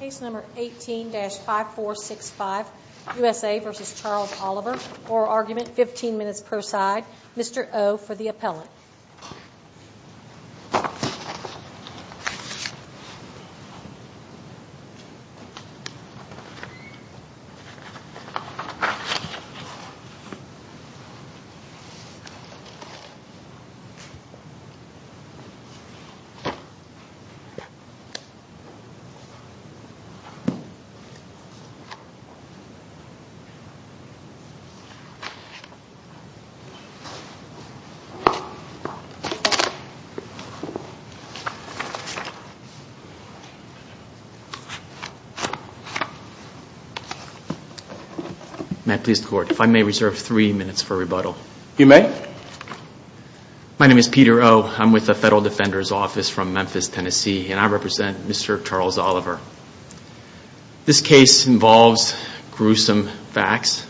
Case number 18-5465, U.S.A. v. Charles Oliver. Oral argument, 15 minutes per side. Mr. O for the appellant. May I please the court, if I may reserve three minutes for rebuttal. You may. My name is Peter O. I'm with the Federal Defender's Office from Memphis, Tennessee. And I represent Mr. Charles Oliver. This case involves gruesome facts.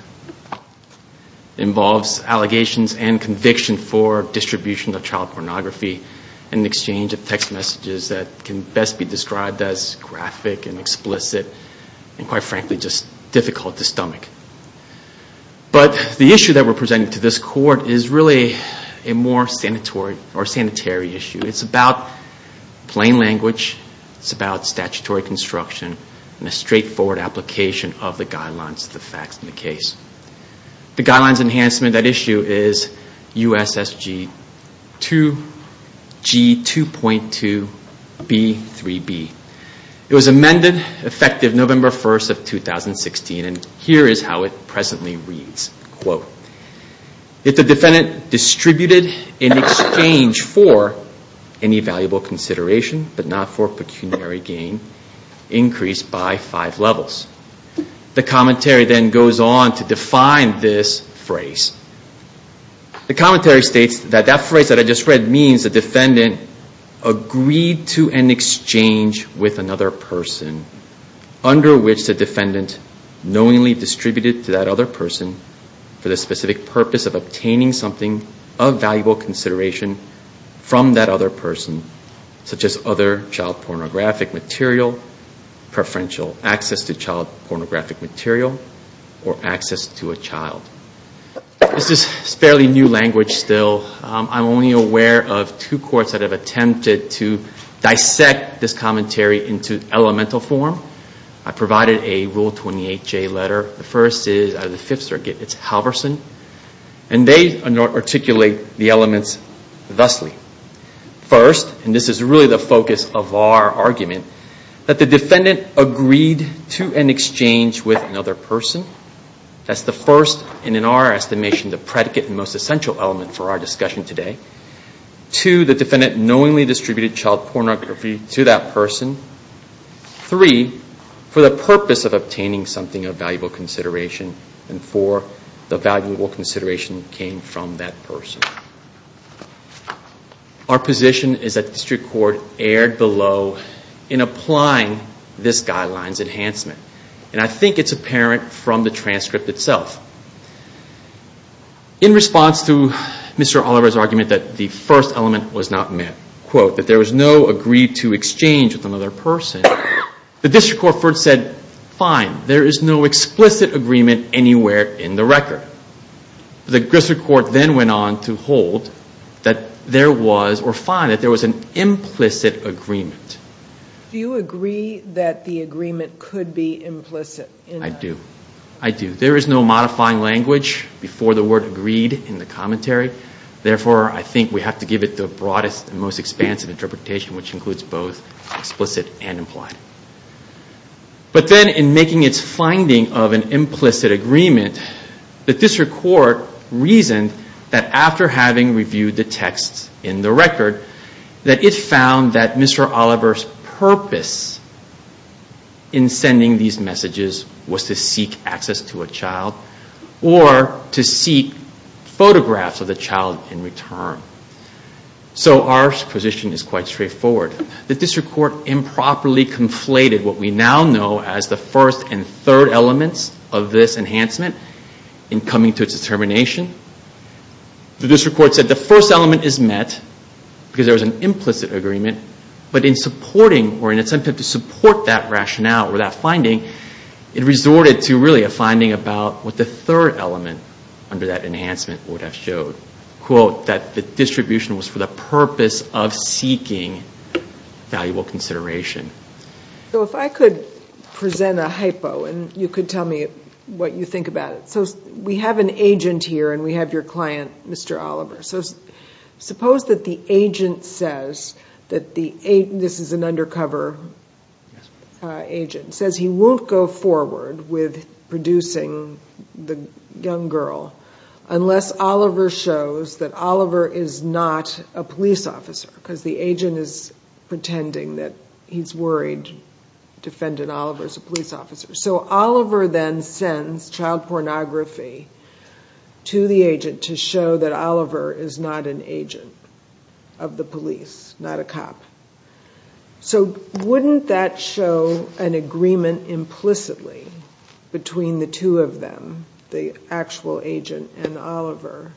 It involves allegations and conviction for distribution of child pornography in exchange of text messages that can best be described as graphic and explicit. And quite frankly, just difficult to stomach. But the issue that we're presenting to this court is really a more sanitary issue. It's about plain language, it's about statutory construction, and a straightforward application of the guidelines of the facts in the case. The guidelines enhancement of that issue is USSG 2G 2.2B 3B. It was amended effective November 1st of 2016, and here is how it presently reads. Quote, if the defendant distributed in exchange for any valuable consideration, but not for pecuniary gain, increased by five levels. The commentary then goes on to define this phrase. The commentary states that that phrase that I just read means the defendant agreed to an exchange with another person, under which the defendant knowingly distributed to that other person for the specific purpose of obtaining something of valuable consideration from that other person, such as other child pornographic material, preferential access to child pornographic material, or access to a child. This is fairly new language still. I'm only aware of two courts that have attempted to dissect this commentary into elemental form. I provided a Rule 28J letter. The first is out of the Fifth Circuit. It's Halverson. And they articulate the elements thusly. First, and this is really the focus of our argument, that the defendant agreed to an exchange with another person. That's the first, and in our estimation, the predicate and most essential element for our discussion today. Two, the defendant knowingly distributed child pornography to that person. Three, for the purpose of obtaining something of valuable consideration. And four, the valuable consideration came from that person. Our position is that the District Court erred below in applying this guideline's enhancement. And I think it's apparent from the transcript itself. In response to Mr. Oliver's argument that the first element was not met, that there was no agreed to exchange with another person, the District Court first said, fine, there is no explicit agreement anywhere in the record. The District Court then went on to hold that there was, or find that there was an implicit agreement. Do you agree that the agreement could be implicit? I do. I do. There is no modifying language before the word agreed in the commentary. Therefore, I think we have to give it the broadest and most expansive interpretation, which includes both explicit and implied. But then in making its finding of an implicit agreement, the District Court reasoned that after having reviewed the texts in the record, that it found that Mr. Oliver's purpose in sending these messages was to seek access to a child, or to seek photographs of the child in return. So our position is quite straightforward. The District Court improperly conflated what we now know as the first and third elements of this enhancement in coming to its determination. The District Court said the first element is met because there was an implicit agreement, but in supporting, or in an attempt to support that rationale or that finding, it resorted to really a finding about what the third element under that enhancement would have showed. Quote, that the distribution was for the purpose of seeking valuable consideration. So if I could present a hypo, and you could tell me what you think about it. So we have an agent here, and we have your client, Mr. Oliver. So suppose that the agent says that the agent, this is an undercover agent, says he won't go forward with producing the young girl unless Oliver shows that Oliver is not a police officer, because the agent is pretending that he's worried Defendant Oliver is a police officer. So Oliver then sends child pornography to the agent to show that Oliver is not an agent of the police, not a cop. So wouldn't that show an agreement implicitly between the two of them, the actual agent and Oliver?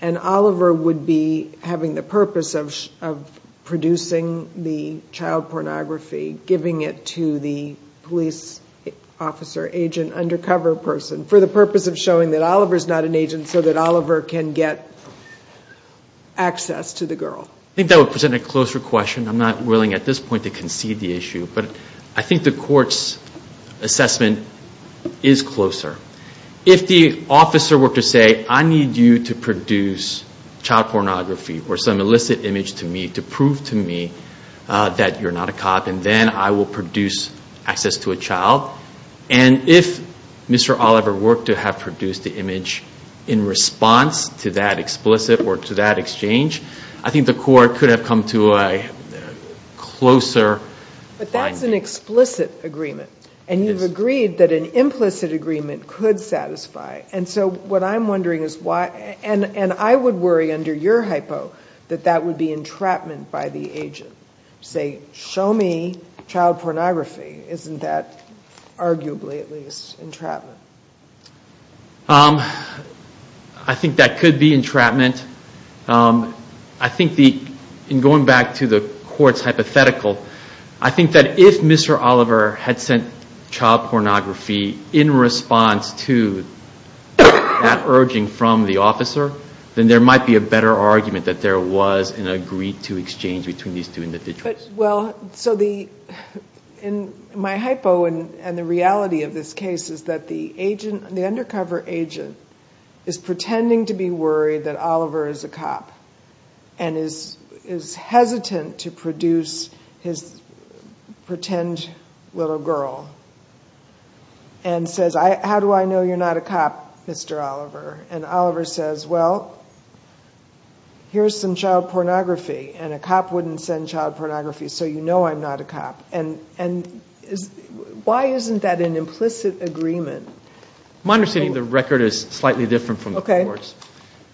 And Oliver would be having the purpose of producing the child pornography, giving it to the police officer agent undercover person for the purpose of showing that Oliver is not an agent so that Oliver can get access to the girl. I think that would present a closer question. I'm not willing at this point to concede the issue, but I think the court's assessment is closer. If the officer were to say, I need you to produce child pornography or some illicit image to me to prove to me that you're not a cop, and then I will produce access to a child, and if Mr. Oliver were to have produced the image in response to that explicit or to that exchange, I think the court could have come to a closer finding. But that's an explicit agreement. And you've agreed that an implicit agreement could satisfy. And so what I'm wondering is why, and I would worry under your hypo that that would be entrapment by the agent. Say, show me child pornography. Isn't that arguably at least entrapment? I think that could be entrapment. I think in going back to the court's hypothetical, I think that if Mr. Oliver had sent child pornography in response to that urging from the officer, then there might be a better argument that there was an agreed-to exchange between these two individuals. Well, so my hypo and the reality of this case is that the undercover agent is pretending to be worried that Oliver is a cop and is hesitant to produce his pretend little girl and says, how do I know you're not a cop, Mr. Oliver? And Oliver says, well, here's some child pornography, and a cop wouldn't send child pornography, so you know I'm not a cop. And why isn't that an implicit agreement? My understanding of the record is slightly different from the court's.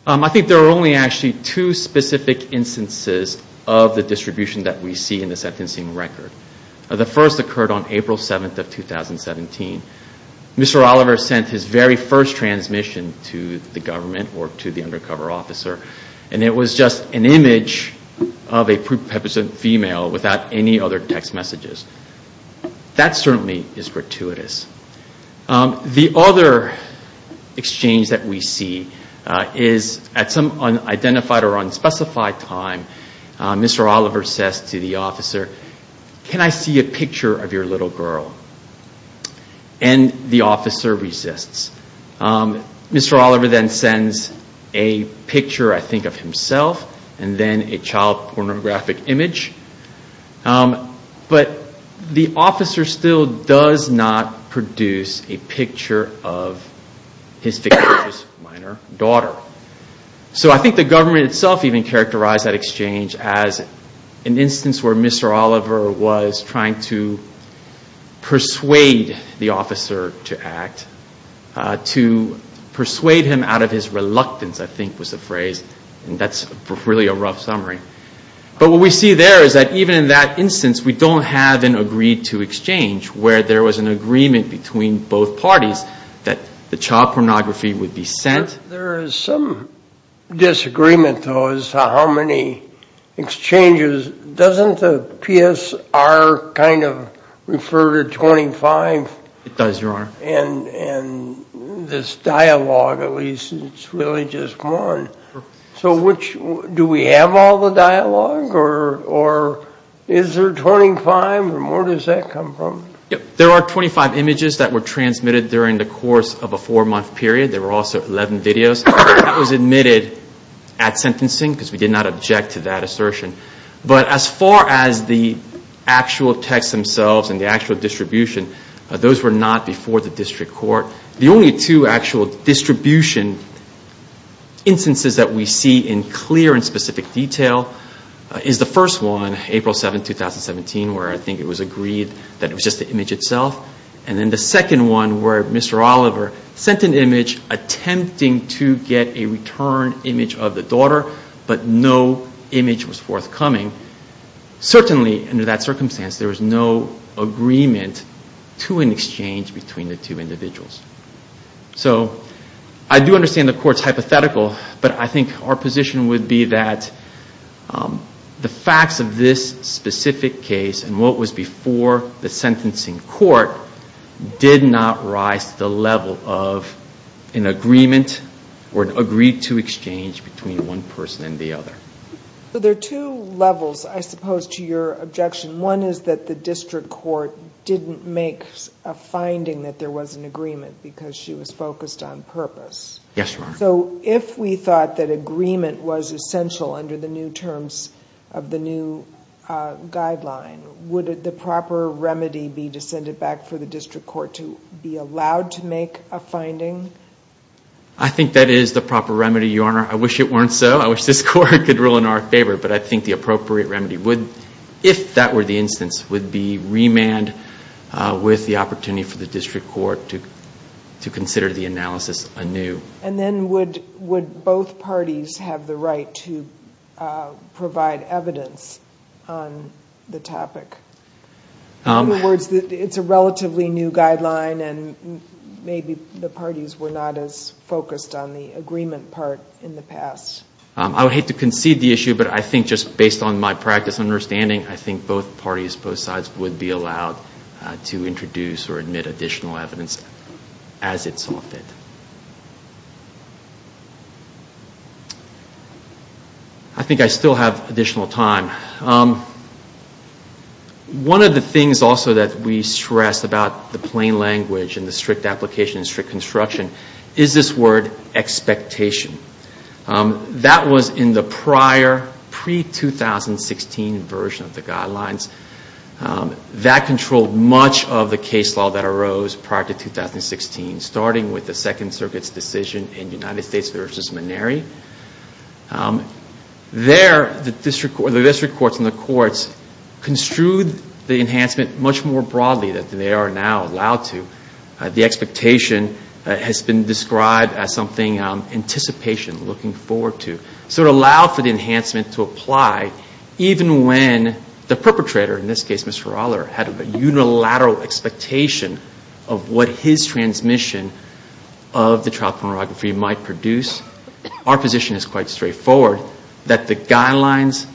I think there are only actually two specific instances of the distribution that we see in the sentencing record. The first occurred on April 7th of 2017. Mr. Oliver sent his very first transmission to the government or to the undercover officer, and it was just an image of a prepubescent female without any other text messages. That certainly is gratuitous. The other exchange that we see is at some unidentified or unspecified time, Mr. Oliver says to the officer, can I see a picture of your little girl? And the officer resists. Mr. Oliver then sends a picture, I think, of himself and then a child pornographic image. But the officer still does not produce a picture of his fictitious minor daughter. So I think the government itself even characterized that exchange as an instance where Mr. Oliver was trying to persuade the officer to act, to persuade him out of his reluctance, I think was the phrase, and that's really a rough summary. But what we see there is that even in that instance, we don't have an agreed-to exchange where there was an agreement between both parties that the child pornography would be sent. There is some disagreement, though, as to how many exchanges. Doesn't the PSR kind of refer to 25? It does, Your Honor. And this dialogue, at least, it's really just one. So do we have all the dialogue, or is there 25? Where does that come from? There are 25 images that were transmitted during the course of a four-month period. There were also 11 videos. That was admitted at sentencing because we did not object to that assertion. But as far as the actual texts themselves and the actual distribution, those were not before the district court. The only two actual distribution instances that we see in clear and specific detail is the first one, April 7, 2017, where I think it was agreed that it was just the image itself, and then the second one where Mr. Oliver sent an image attempting to get a return image of the daughter, but no image was forthcoming. Certainly, under that circumstance, there was no agreement to an exchange between the two individuals. So I do understand the Court's hypothetical, but I think our position would be that the facts of this specific case and what was before the sentencing court did not rise to the level of an agreement or an agreed-to exchange between one person and the other. So there are two levels, I suppose, to your objection. One is that the district court didn't make a finding that there was an agreement because she was focused on purpose. Yes, Your Honor. So if we thought that agreement was essential under the new terms of the new guideline, would the proper remedy be to send it back for the district court to be allowed to make a finding? I think that is the proper remedy, Your Honor. I wish it weren't so. I wish this Court could rule in our favor. But I think the appropriate remedy would, if that were the instance, would be remand with the opportunity for the district court to consider the analysis anew. And then would both parties have the right to provide evidence on the topic? In other words, it's a relatively new guideline and maybe the parties were not as focused on the agreement part in the past. I would hate to concede the issue, but I think just based on my practice and understanding, I think both parties, both sides would be allowed to introduce or admit additional evidence as it solved it. I think I still have additional time. One of the things also that we stress about the plain language and the strict application and strict construction is this word expectation. That was in the prior, pre-2016 version of the guidelines. That controlled much of the case law that arose prior to 2016, starting with the Second Circuit's decision in United States v. Maneri. There, the district courts and the courts construed the enhancement much more broadly than they are now allowed to. The expectation has been described as something anticipation, looking forward to. So it allowed for the enhancement to apply even when the perpetrator, in this case Mr. Rahler, had a unilateral expectation of what his transmission of the trial pornography might produce. Our position is quite straightforward, that the guidelines,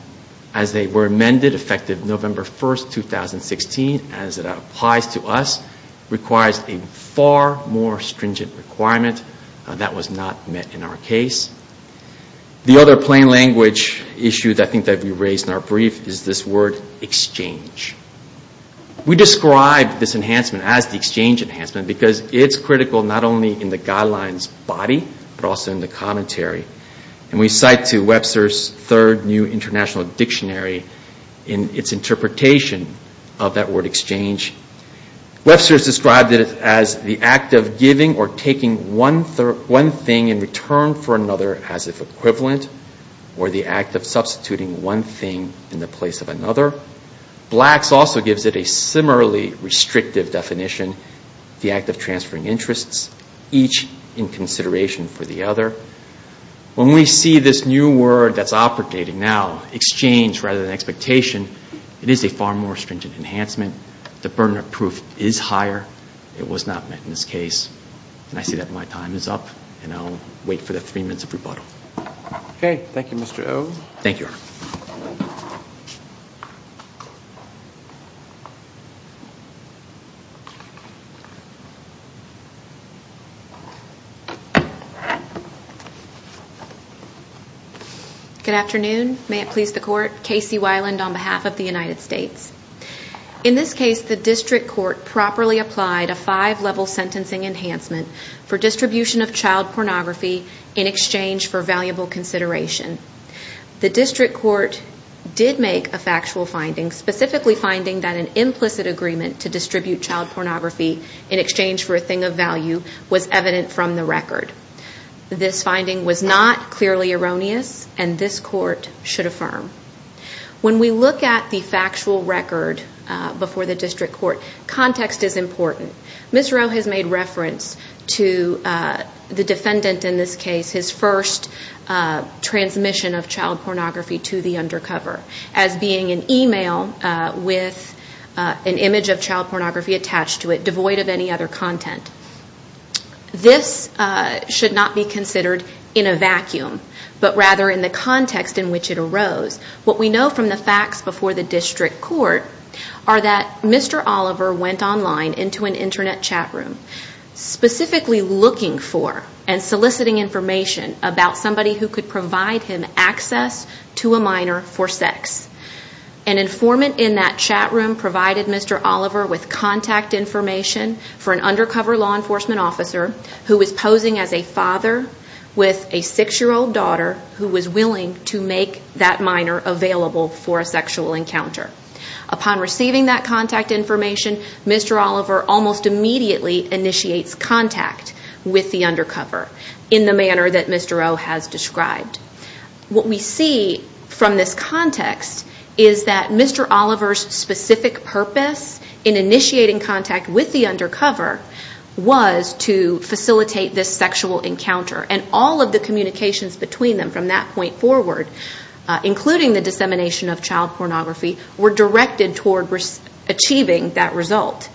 as they were amended, effective November 1, 2016, as it applies to us, requires a far more stringent requirement. That was not met in our case. The other plain language issue that I think we raised in our brief is this word exchange. We described this enhancement as the exchange enhancement because it's critical not only in the guidelines body, but also in the commentary. And we cite to Webster's Third New International Dictionary in its interpretation of that word exchange. Webster's described it as the act of giving or taking one thing in return for another as if equivalent, or the act of substituting one thing in the place of another. Black's also gives it a similarly restrictive definition, the act of transferring interests, each in consideration for the other. When we see this new word that's operating now, exchange rather than expectation, it is a far more stringent enhancement. The burden of proof is higher. It was not met in this case. And I see that my time is up, and I'll wait for the three minutes of rebuttal. Thank you, Your Honor. Thank you. Good afternoon. May it please the Court. Casey Weiland on behalf of the United States. In this case, the district court properly applied a five-level sentencing enhancement for distribution of child pornography in exchange for valuable consideration. The district court did make a factual finding, specifically finding that an implicit agreement to distribute child pornography in exchange for a thing of value was evident from the record. This finding was not clearly erroneous, and this court should affirm. When we look at the factual record before the district court, context is important. Ms. Rowe has made reference to the defendant in this case, his first transmission of child pornography to the undercover, as being an e-mail with an image of child pornography attached to it, devoid of any other content. This should not be considered in a vacuum, but rather in the context in which it arose. What we know from the facts before the district court are that Mr. Oliver went online into an Internet chat room, specifically looking for and soliciting information about somebody who could provide him access to a minor for sex. An informant in that chat room provided Mr. Oliver with contact information for an undercover law enforcement officer who was posing as a father with a six-year-old daughter who was willing to make that minor available for a sexual encounter. Upon receiving that contact information, Mr. Oliver almost immediately initiates contact with the undercover in the manner that Ms. Rowe has described. What we see from this context is that Mr. Oliver's specific purpose in initiating contact with the undercover was to facilitate this sexual encounter, and all of the communications between them from that point forward, including the dissemination of child pornography, were directed toward achieving that result.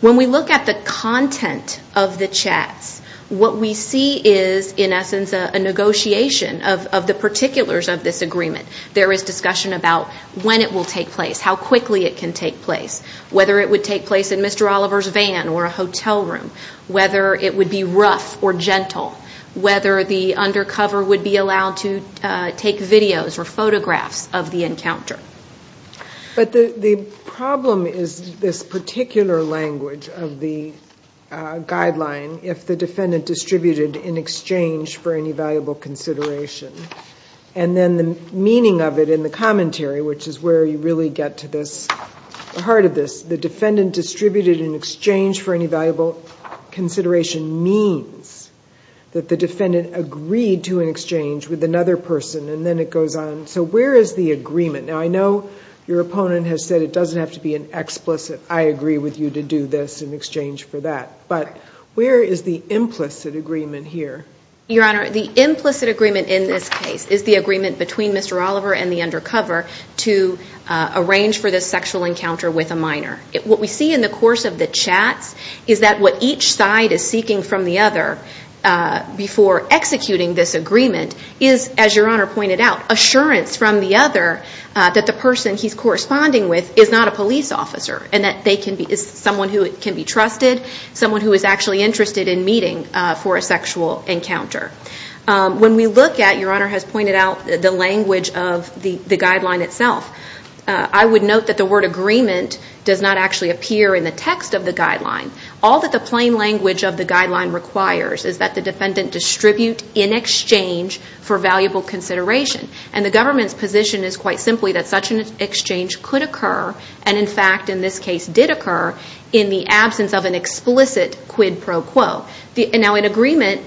When we look at the content of the chats, what we see is, in essence, a negotiation of the particulars of this agreement. There is discussion about when it will take place, how quickly it can take place, whether it would take place in Mr. Oliver's van or a hotel room, whether it would be rough or gentle, whether the undercover would be allowed to take videos or photographs of the encounter. But the problem is this particular language of the guideline, if the defendant distributed in exchange for any valuable consideration, and then the meaning of it in the commentary, which is where you really get to the heart of this. The defendant distributed in exchange for any valuable consideration means that the defendant agreed to an exchange with another person, and then it goes on. So where is the agreement? Now, I know your opponent has said it doesn't have to be an explicit, I agree with you to do this in exchange for that. But where is the implicit agreement here? Your Honor, the implicit agreement in this case is the agreement between Mr. Oliver and the undercover to arrange for this sexual encounter with a minor. What we see in the course of the chats is that what each side is seeking from the other before executing this agreement is, as your Honor pointed out, assurance from the other that the person he's corresponding with is not a police officer and that they can be someone who can be trusted, someone who is actually interested in meeting for a sexual encounter. When we look at, your Honor has pointed out, the language of the guideline itself, I would note that the word agreement does not actually appear in the text of the guideline. All that the plain language of the guideline requires is that the defendant distribute in exchange for valuable consideration. And the government's position is quite simply that such an exchange could occur, and in fact in this case did occur, in the absence of an explicit quid pro quo. Now an agreement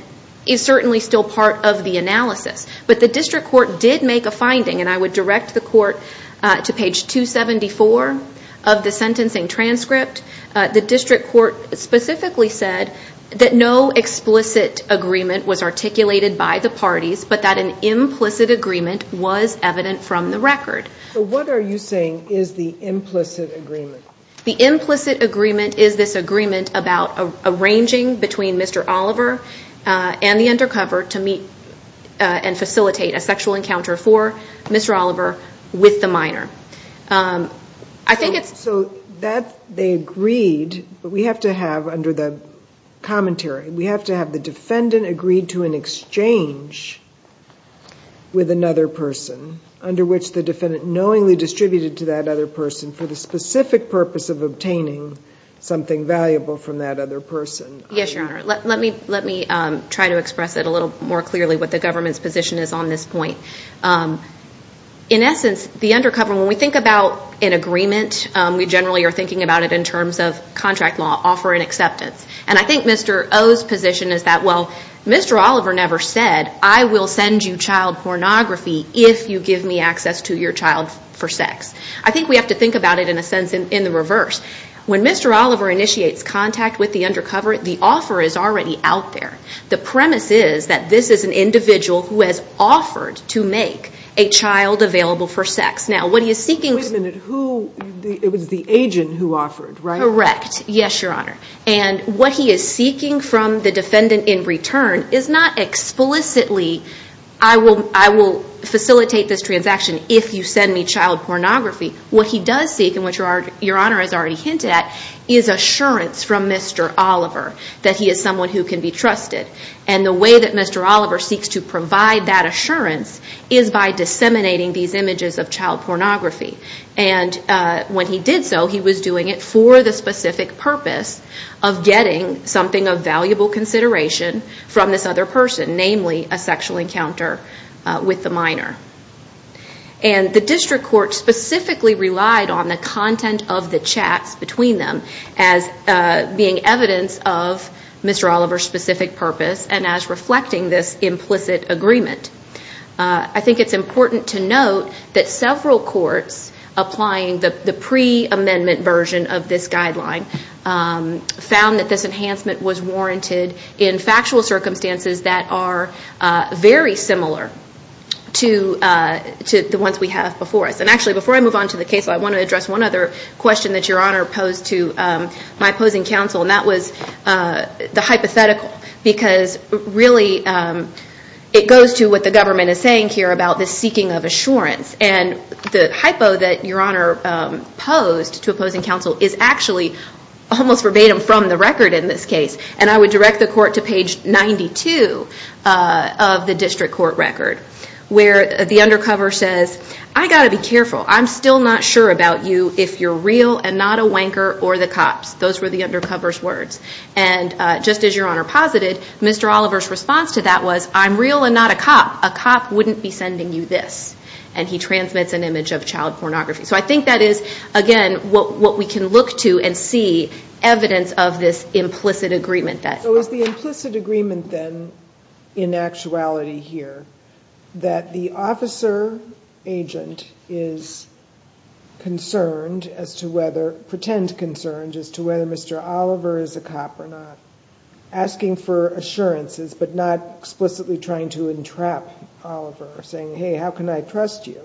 is certainly still part of the analysis, but the district court did make a finding, and I would direct the court to page 274 of the sentencing transcript. The district court specifically said that no explicit agreement was articulated by the parties, but that an implicit agreement was evident from the record. So what are you saying is the implicit agreement? The implicit agreement is this agreement about arranging between Mr. Oliver and the undercover to meet and facilitate a sexual encounter for Mr. Oliver with the minor. I think it's... So that they agreed, but we have to have under the commentary, we have to have the defendant agree to an exchange with another person, under which the defendant knowingly distributed to that other person for the specific purpose of obtaining something valuable from that other person. Yes, Your Honor. Let me try to express it a little more clearly what the government's position is on this point. In essence, the undercover, when we think about an agreement, we generally are thinking about it in terms of contract law, offer and acceptance. And I think Mr. O's position is that, well, Mr. Oliver never said, I will send you child pornography if you give me access to your child for sex. I think we have to think about it in a sense in the reverse. When Mr. Oliver initiates contact with the undercover, the offer is already out there. The premise is that this is an individual who has offered to make a child available for sex. Now, what he is seeking... Wait a minute. It was the agent who offered, right? Correct. Yes, Your Honor. And what he is seeking from the defendant in return is not explicitly, I will facilitate this transaction if you send me child pornography. What he does seek, and what Your Honor has already hinted at, is assurance from Mr. Oliver that he is someone who can be trusted. And the way that Mr. Oliver seeks to provide that assurance is by disseminating these images of child pornography. And when he did so, he was doing it for the specific purpose of getting something of valuable consideration from this other person, namely a sexual encounter with the minor. And the district court specifically relied on the content of the chats between them as being evidence of Mr. Oliver's specific purpose and as reflecting this implicit agreement. I think it's important to note that several courts applying the pre-amendment version of this guideline found that this enhancement was warranted in factual circumstances that are very similar to the ones we have before us. And actually, before I move on to the case, I want to address one other question that Your Honor posed to my opposing counsel, and that was the hypothetical. Because really, it goes to what the government is saying here about the seeking of assurance. And the hypo that Your Honor posed to opposing counsel is actually almost verbatim from the record in this case. And I would direct the court to page 92 of the district court record, where the undercover says, I've got to be careful. I'm still not sure about you if you're real and not a wanker or the cops. Those were the undercover's words. And just as Your Honor posited, Mr. Oliver's response to that was, I'm real and not a cop. A cop wouldn't be sending you this. And he transmits an image of child pornography. So I think that is, again, what we can look to and see evidence of this implicit agreement. So is the implicit agreement then, in actuality here, that the officer agent is concerned as to whether, pretend concerned, as to whether Mr. Oliver is a cop or not, asking for assurances, but not explicitly trying to entrap Oliver, saying, hey, how can I trust you?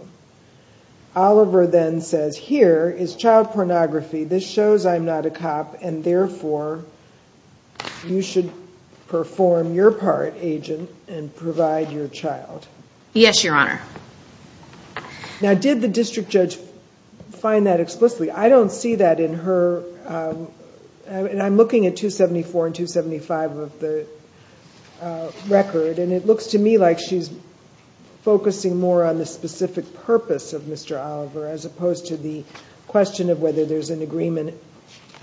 Oliver then says, here is child pornography. This shows I'm not a cop, and therefore you should perform your part, agent, and provide your child. Yes, Your Honor. Now, did the district judge find that explicitly? I don't see that in her. I'm looking at 274 and 275 of the record, and it looks to me like she's focusing more on the specific purpose of Mr. Oliver as opposed to the question of whether there's an agreement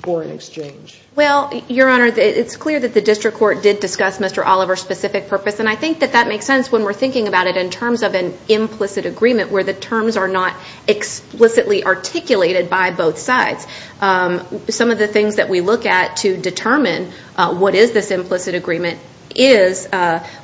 or an exchange. Well, Your Honor, it's clear that the district court did discuss Mr. Oliver's specific purpose, and I think that that makes sense when we're thinking about it in terms of an implicit agreement where the terms are not explicitly articulated by both sides. Some of the things that we look at to determine what is this implicit agreement is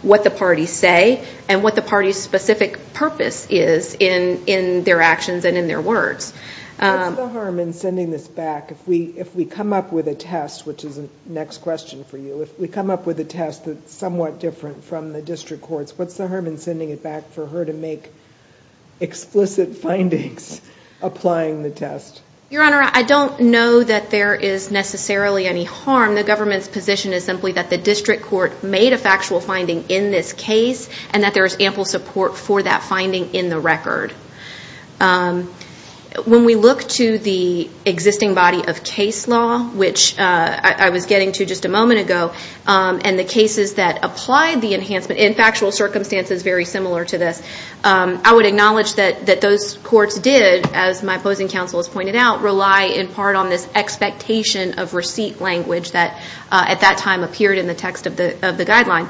what the parties say and what the party's specific purpose is in their actions and in their words. What's the harm in sending this back if we come up with a test, which is the next question for you, if we come up with a test that's somewhat different from the district court's, what's the harm in sending it back for her to make explicit findings applying the test? Your Honor, I don't know that there is necessarily any harm. The government's position is simply that the district court made a factual finding in this case and that there is ample support for that finding in the record. When we look to the existing body of case law, which I was getting to just a moment ago, and the cases that applied the enhancement in factual circumstances very similar to this, I would acknowledge that those courts did, as my opposing counsel has pointed out, not rely in part on this expectation of receipt language that at that time appeared in the text of the guideline.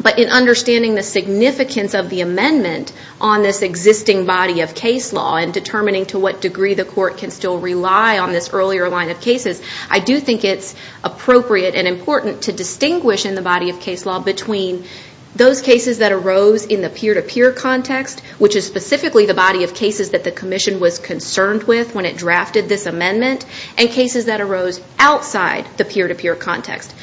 But in understanding the significance of the amendment on this existing body of case law and determining to what degree the court can still rely on this earlier line of cases, I do think it's appropriate and important to distinguish in the body of case law between those cases that arose in the peer-to-peer context, which is specifically the body of cases that the Commission was concerned with when it drafted this amendment, and cases that arose outside the peer-to-peer context.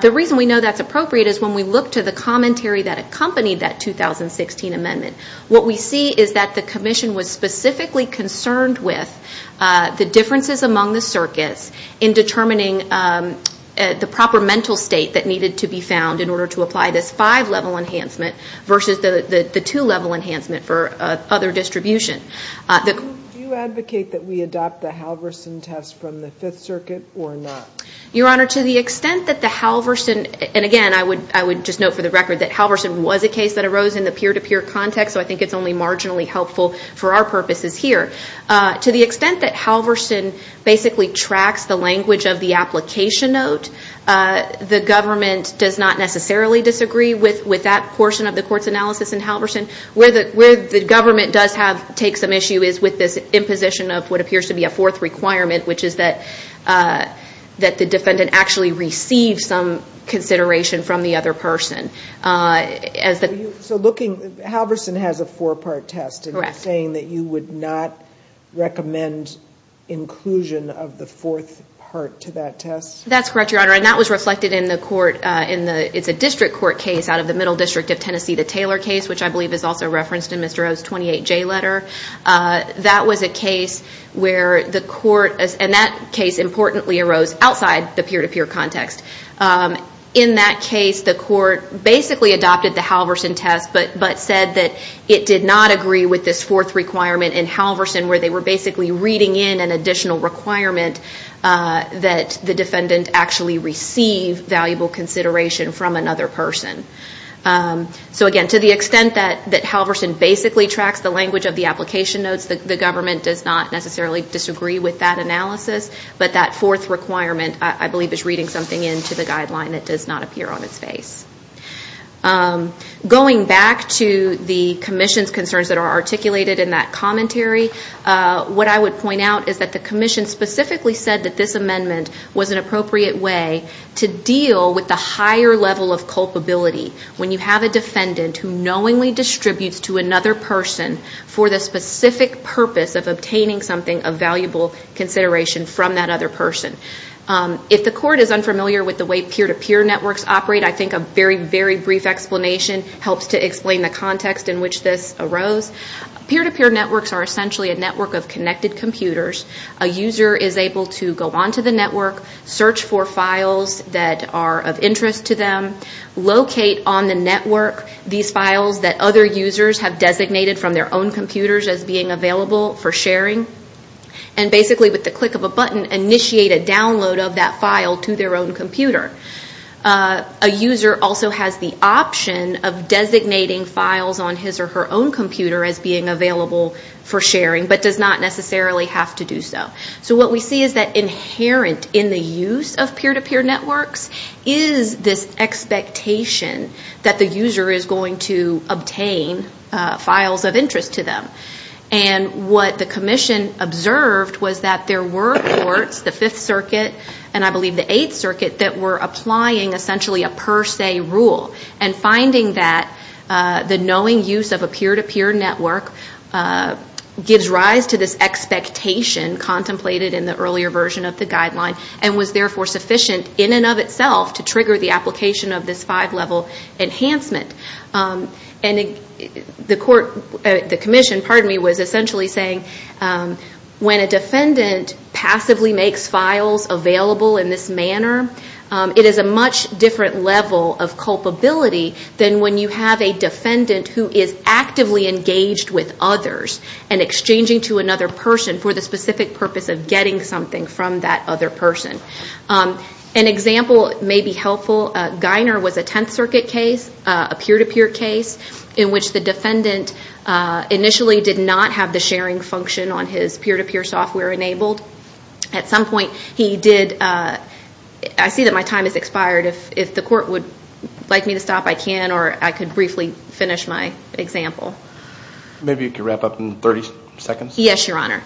The reason we know that's appropriate is when we look to the commentary that accompanied that 2016 amendment, what we see is that the Commission was specifically concerned with the differences among the circuits in determining the proper mental state that needed to be found in order to apply this five-level enhancement versus the two-level enhancement for other distribution. Do you advocate that we adopt the Halverson test from the Fifth Circuit or not? Your Honor, to the extent that the Halverson, and again, I would just note for the record that Halverson was a case that arose in the peer-to-peer context, so I think it's only marginally helpful for our purposes here. To the extent that Halverson basically tracks the language of the application note, the government does not necessarily disagree with that portion of the court's analysis in Halverson. Where the government does take some issue is with this imposition of what appears to be a fourth requirement, which is that the defendant actually receives some consideration from the other person. So looking, Halverson has a four-part test, and you're saying that you would not recommend inclusion of the fourth part to that test? That's correct, Your Honor, and that was reflected in the court. It's a district court case out of the Middle District of Tennessee, the Taylor case, which I believe is also referenced in Mr. O's 28J letter. That was a case where the court, and that case importantly arose outside the peer-to-peer context. In that case, the court basically adopted the Halverson test but said that it did not agree with this fourth requirement in Halverson where they were basically reading in an additional requirement that the defendant actually receive valuable consideration from another person. So again, to the extent that Halverson basically tracks the language of the application notes, the government does not necessarily disagree with that analysis, but that fourth requirement I believe is reading something into the guideline that does not appear on its face. Going back to the commission's concerns that are articulated in that commentary, what I would point out is that the commission specifically said that this amendment was an appropriate way to deal with the higher level of culpability when you have a defendant who knowingly distributes to another person for the specific purpose of obtaining something of valuable consideration from that other person. If the court is unfamiliar with the way peer-to-peer networks operate, I think a very, very brief explanation helps to explain the context in which this arose. Peer-to-peer networks are essentially a network of connected computers. A user is able to go onto the network, search for files that are of interest to them, locate on the network these files that other users have designated from their own computers as being available for sharing, and basically with the click of a button initiate a download of that file to their own computer. A user also has the option of designating files on his or her own computer as being available for sharing, but does not necessarily have to do so. So what we see is that inherent in the use of peer-to-peer networks is this expectation that the user is going to obtain files of interest to them. And what the Commission observed was that there were courts, the Fifth Circuit and I believe the Eighth Circuit, that were applying essentially a per se rule and finding that the knowing use of a peer-to-peer network gives rise to this expectation contemplated in the earlier version of the guideline and was therefore sufficient in and of itself to trigger the application of this five-level enhancement. And the Commission was essentially saying when a defendant passively makes files available in this manner, it is a much different level of culpability than when you have a defendant who is actively engaged with others and exchanging to another person for the specific purpose of getting something from that other person. An example may be helpful. Geiner was a Tenth Circuit case, a peer-to-peer case, in which the defendant initially did not have the sharing function on his peer-to-peer software enabled. At some point he did, I see that my time has expired. If the court would like me to stop, I can or I could briefly finish my example. Maybe you can wrap up in 30 seconds. Yes, Your Honor.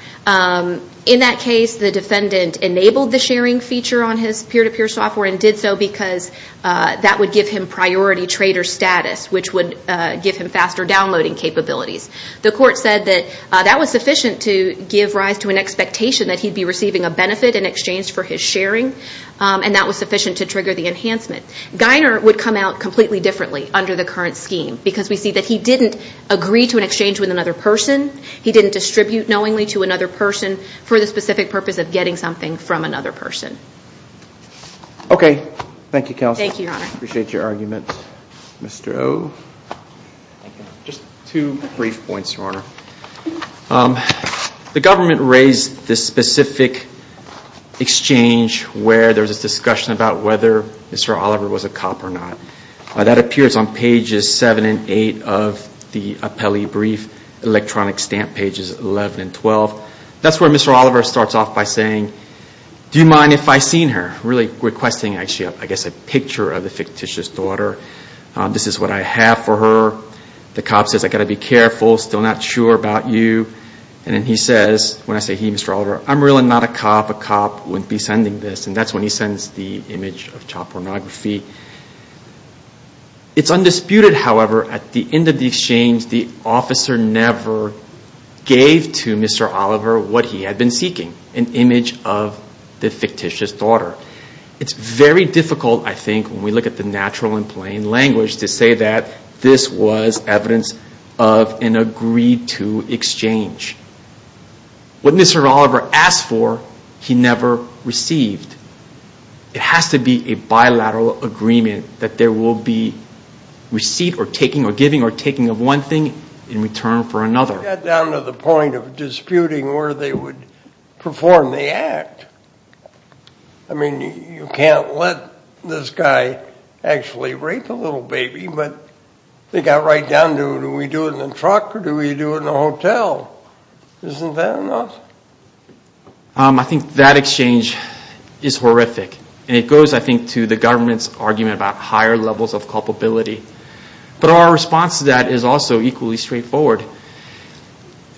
In that case, the defendant enabled the sharing feature on his peer-to-peer software and did so because that would give him priority trader status, which would give him faster downloading capabilities. The court said that that was sufficient to give rise to an expectation that he'd be receiving a benefit in exchange for his sharing, and that was sufficient to trigger the enhancement. Geiner would come out completely differently under the current scheme because we see that he didn't agree to an exchange with another person. He didn't distribute knowingly to another person for the specific purpose of getting something from another person. Okay. Thank you, Counsel. Thank you, Your Honor. Appreciate your argument. Mr. O? Thank you. Just two brief points, Your Honor. The government raised this specific exchange where there was a discussion about whether Mr. Oliver was a cop or not. That appears on pages 7 and 8 of the appellee brief. Electronic stamp pages 11 and 12. That's where Mr. Oliver starts off by saying, Do you mind if I seen her? Really requesting, I guess, a picture of the fictitious daughter. This is what I have for her. The cop says, I've got to be careful. Still not sure about you. And then he says, when I say he, Mr. Oliver, I'm really not a cop. A cop wouldn't be sending this. And that's when he sends the image of child pornography. It's undisputed, however, at the end of the exchange, the officer never gave to Mr. Oliver what he had been seeking. An image of the fictitious daughter. It's very difficult, I think, when we look at the natural and plain language to say that this was evidence of an agreed-to exchange. What Mr. Oliver asked for, he never received. It has to be a bilateral agreement that there will be receipt or taking or giving or taking of one thing in return for another. It got down to the point of disputing where they would perform the act. I mean, you can't let this guy actually rape a little baby, but they got right down to, do we do it in a truck or do we do it in a hotel? Isn't that enough? I think that exchange is horrific. And it goes, I think, to the government's argument about higher levels of culpability. But our response to that is also equally straightforward.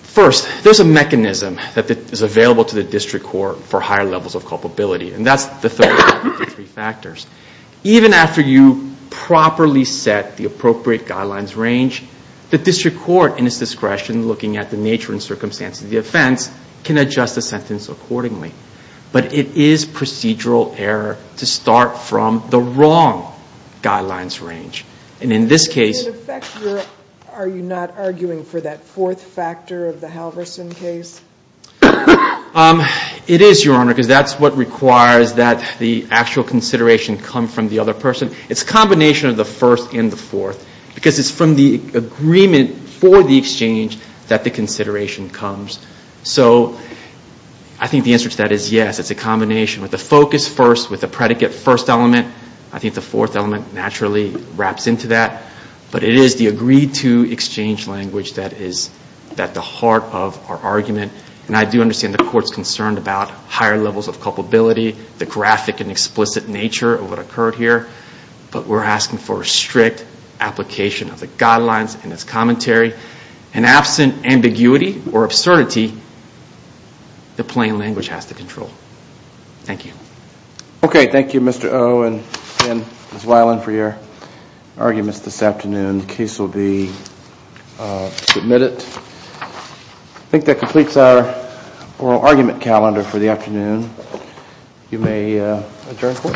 First, there's a mechanism that is available to the district court for higher levels of culpability. And that's the third of the three factors. Even after you properly set the appropriate guidelines range, the district court, in its discretion, looking at the nature and circumstances of the offense, can adjust the sentence accordingly. But it is procedural error to start from the wrong guidelines range. And in this case- Does it affect your, are you not arguing for that fourth factor of the Halverson case? It is, Your Honor, because that's what requires that the actual consideration come from the other person. It's a combination of the first and the fourth, because it's from the agreement for the exchange that the consideration comes. So I think the answer to that is yes. It's a combination with the focus first, with the predicate first element. I think the fourth element naturally wraps into that. But it is the agreed-to exchange language that is at the heart of our argument. And I do understand the court's concerned about higher levels of culpability, the graphic and explicit nature of what occurred here. But we're asking for a strict application of the guidelines and its commentary. And absent ambiguity or absurdity, the plain language has the control. Thank you. Okay, thank you, Mr. Oh and Ms. Weiland, for your arguments this afternoon. The case will be submitted. I think that completes our oral argument calendar for the afternoon. You may adjourn court.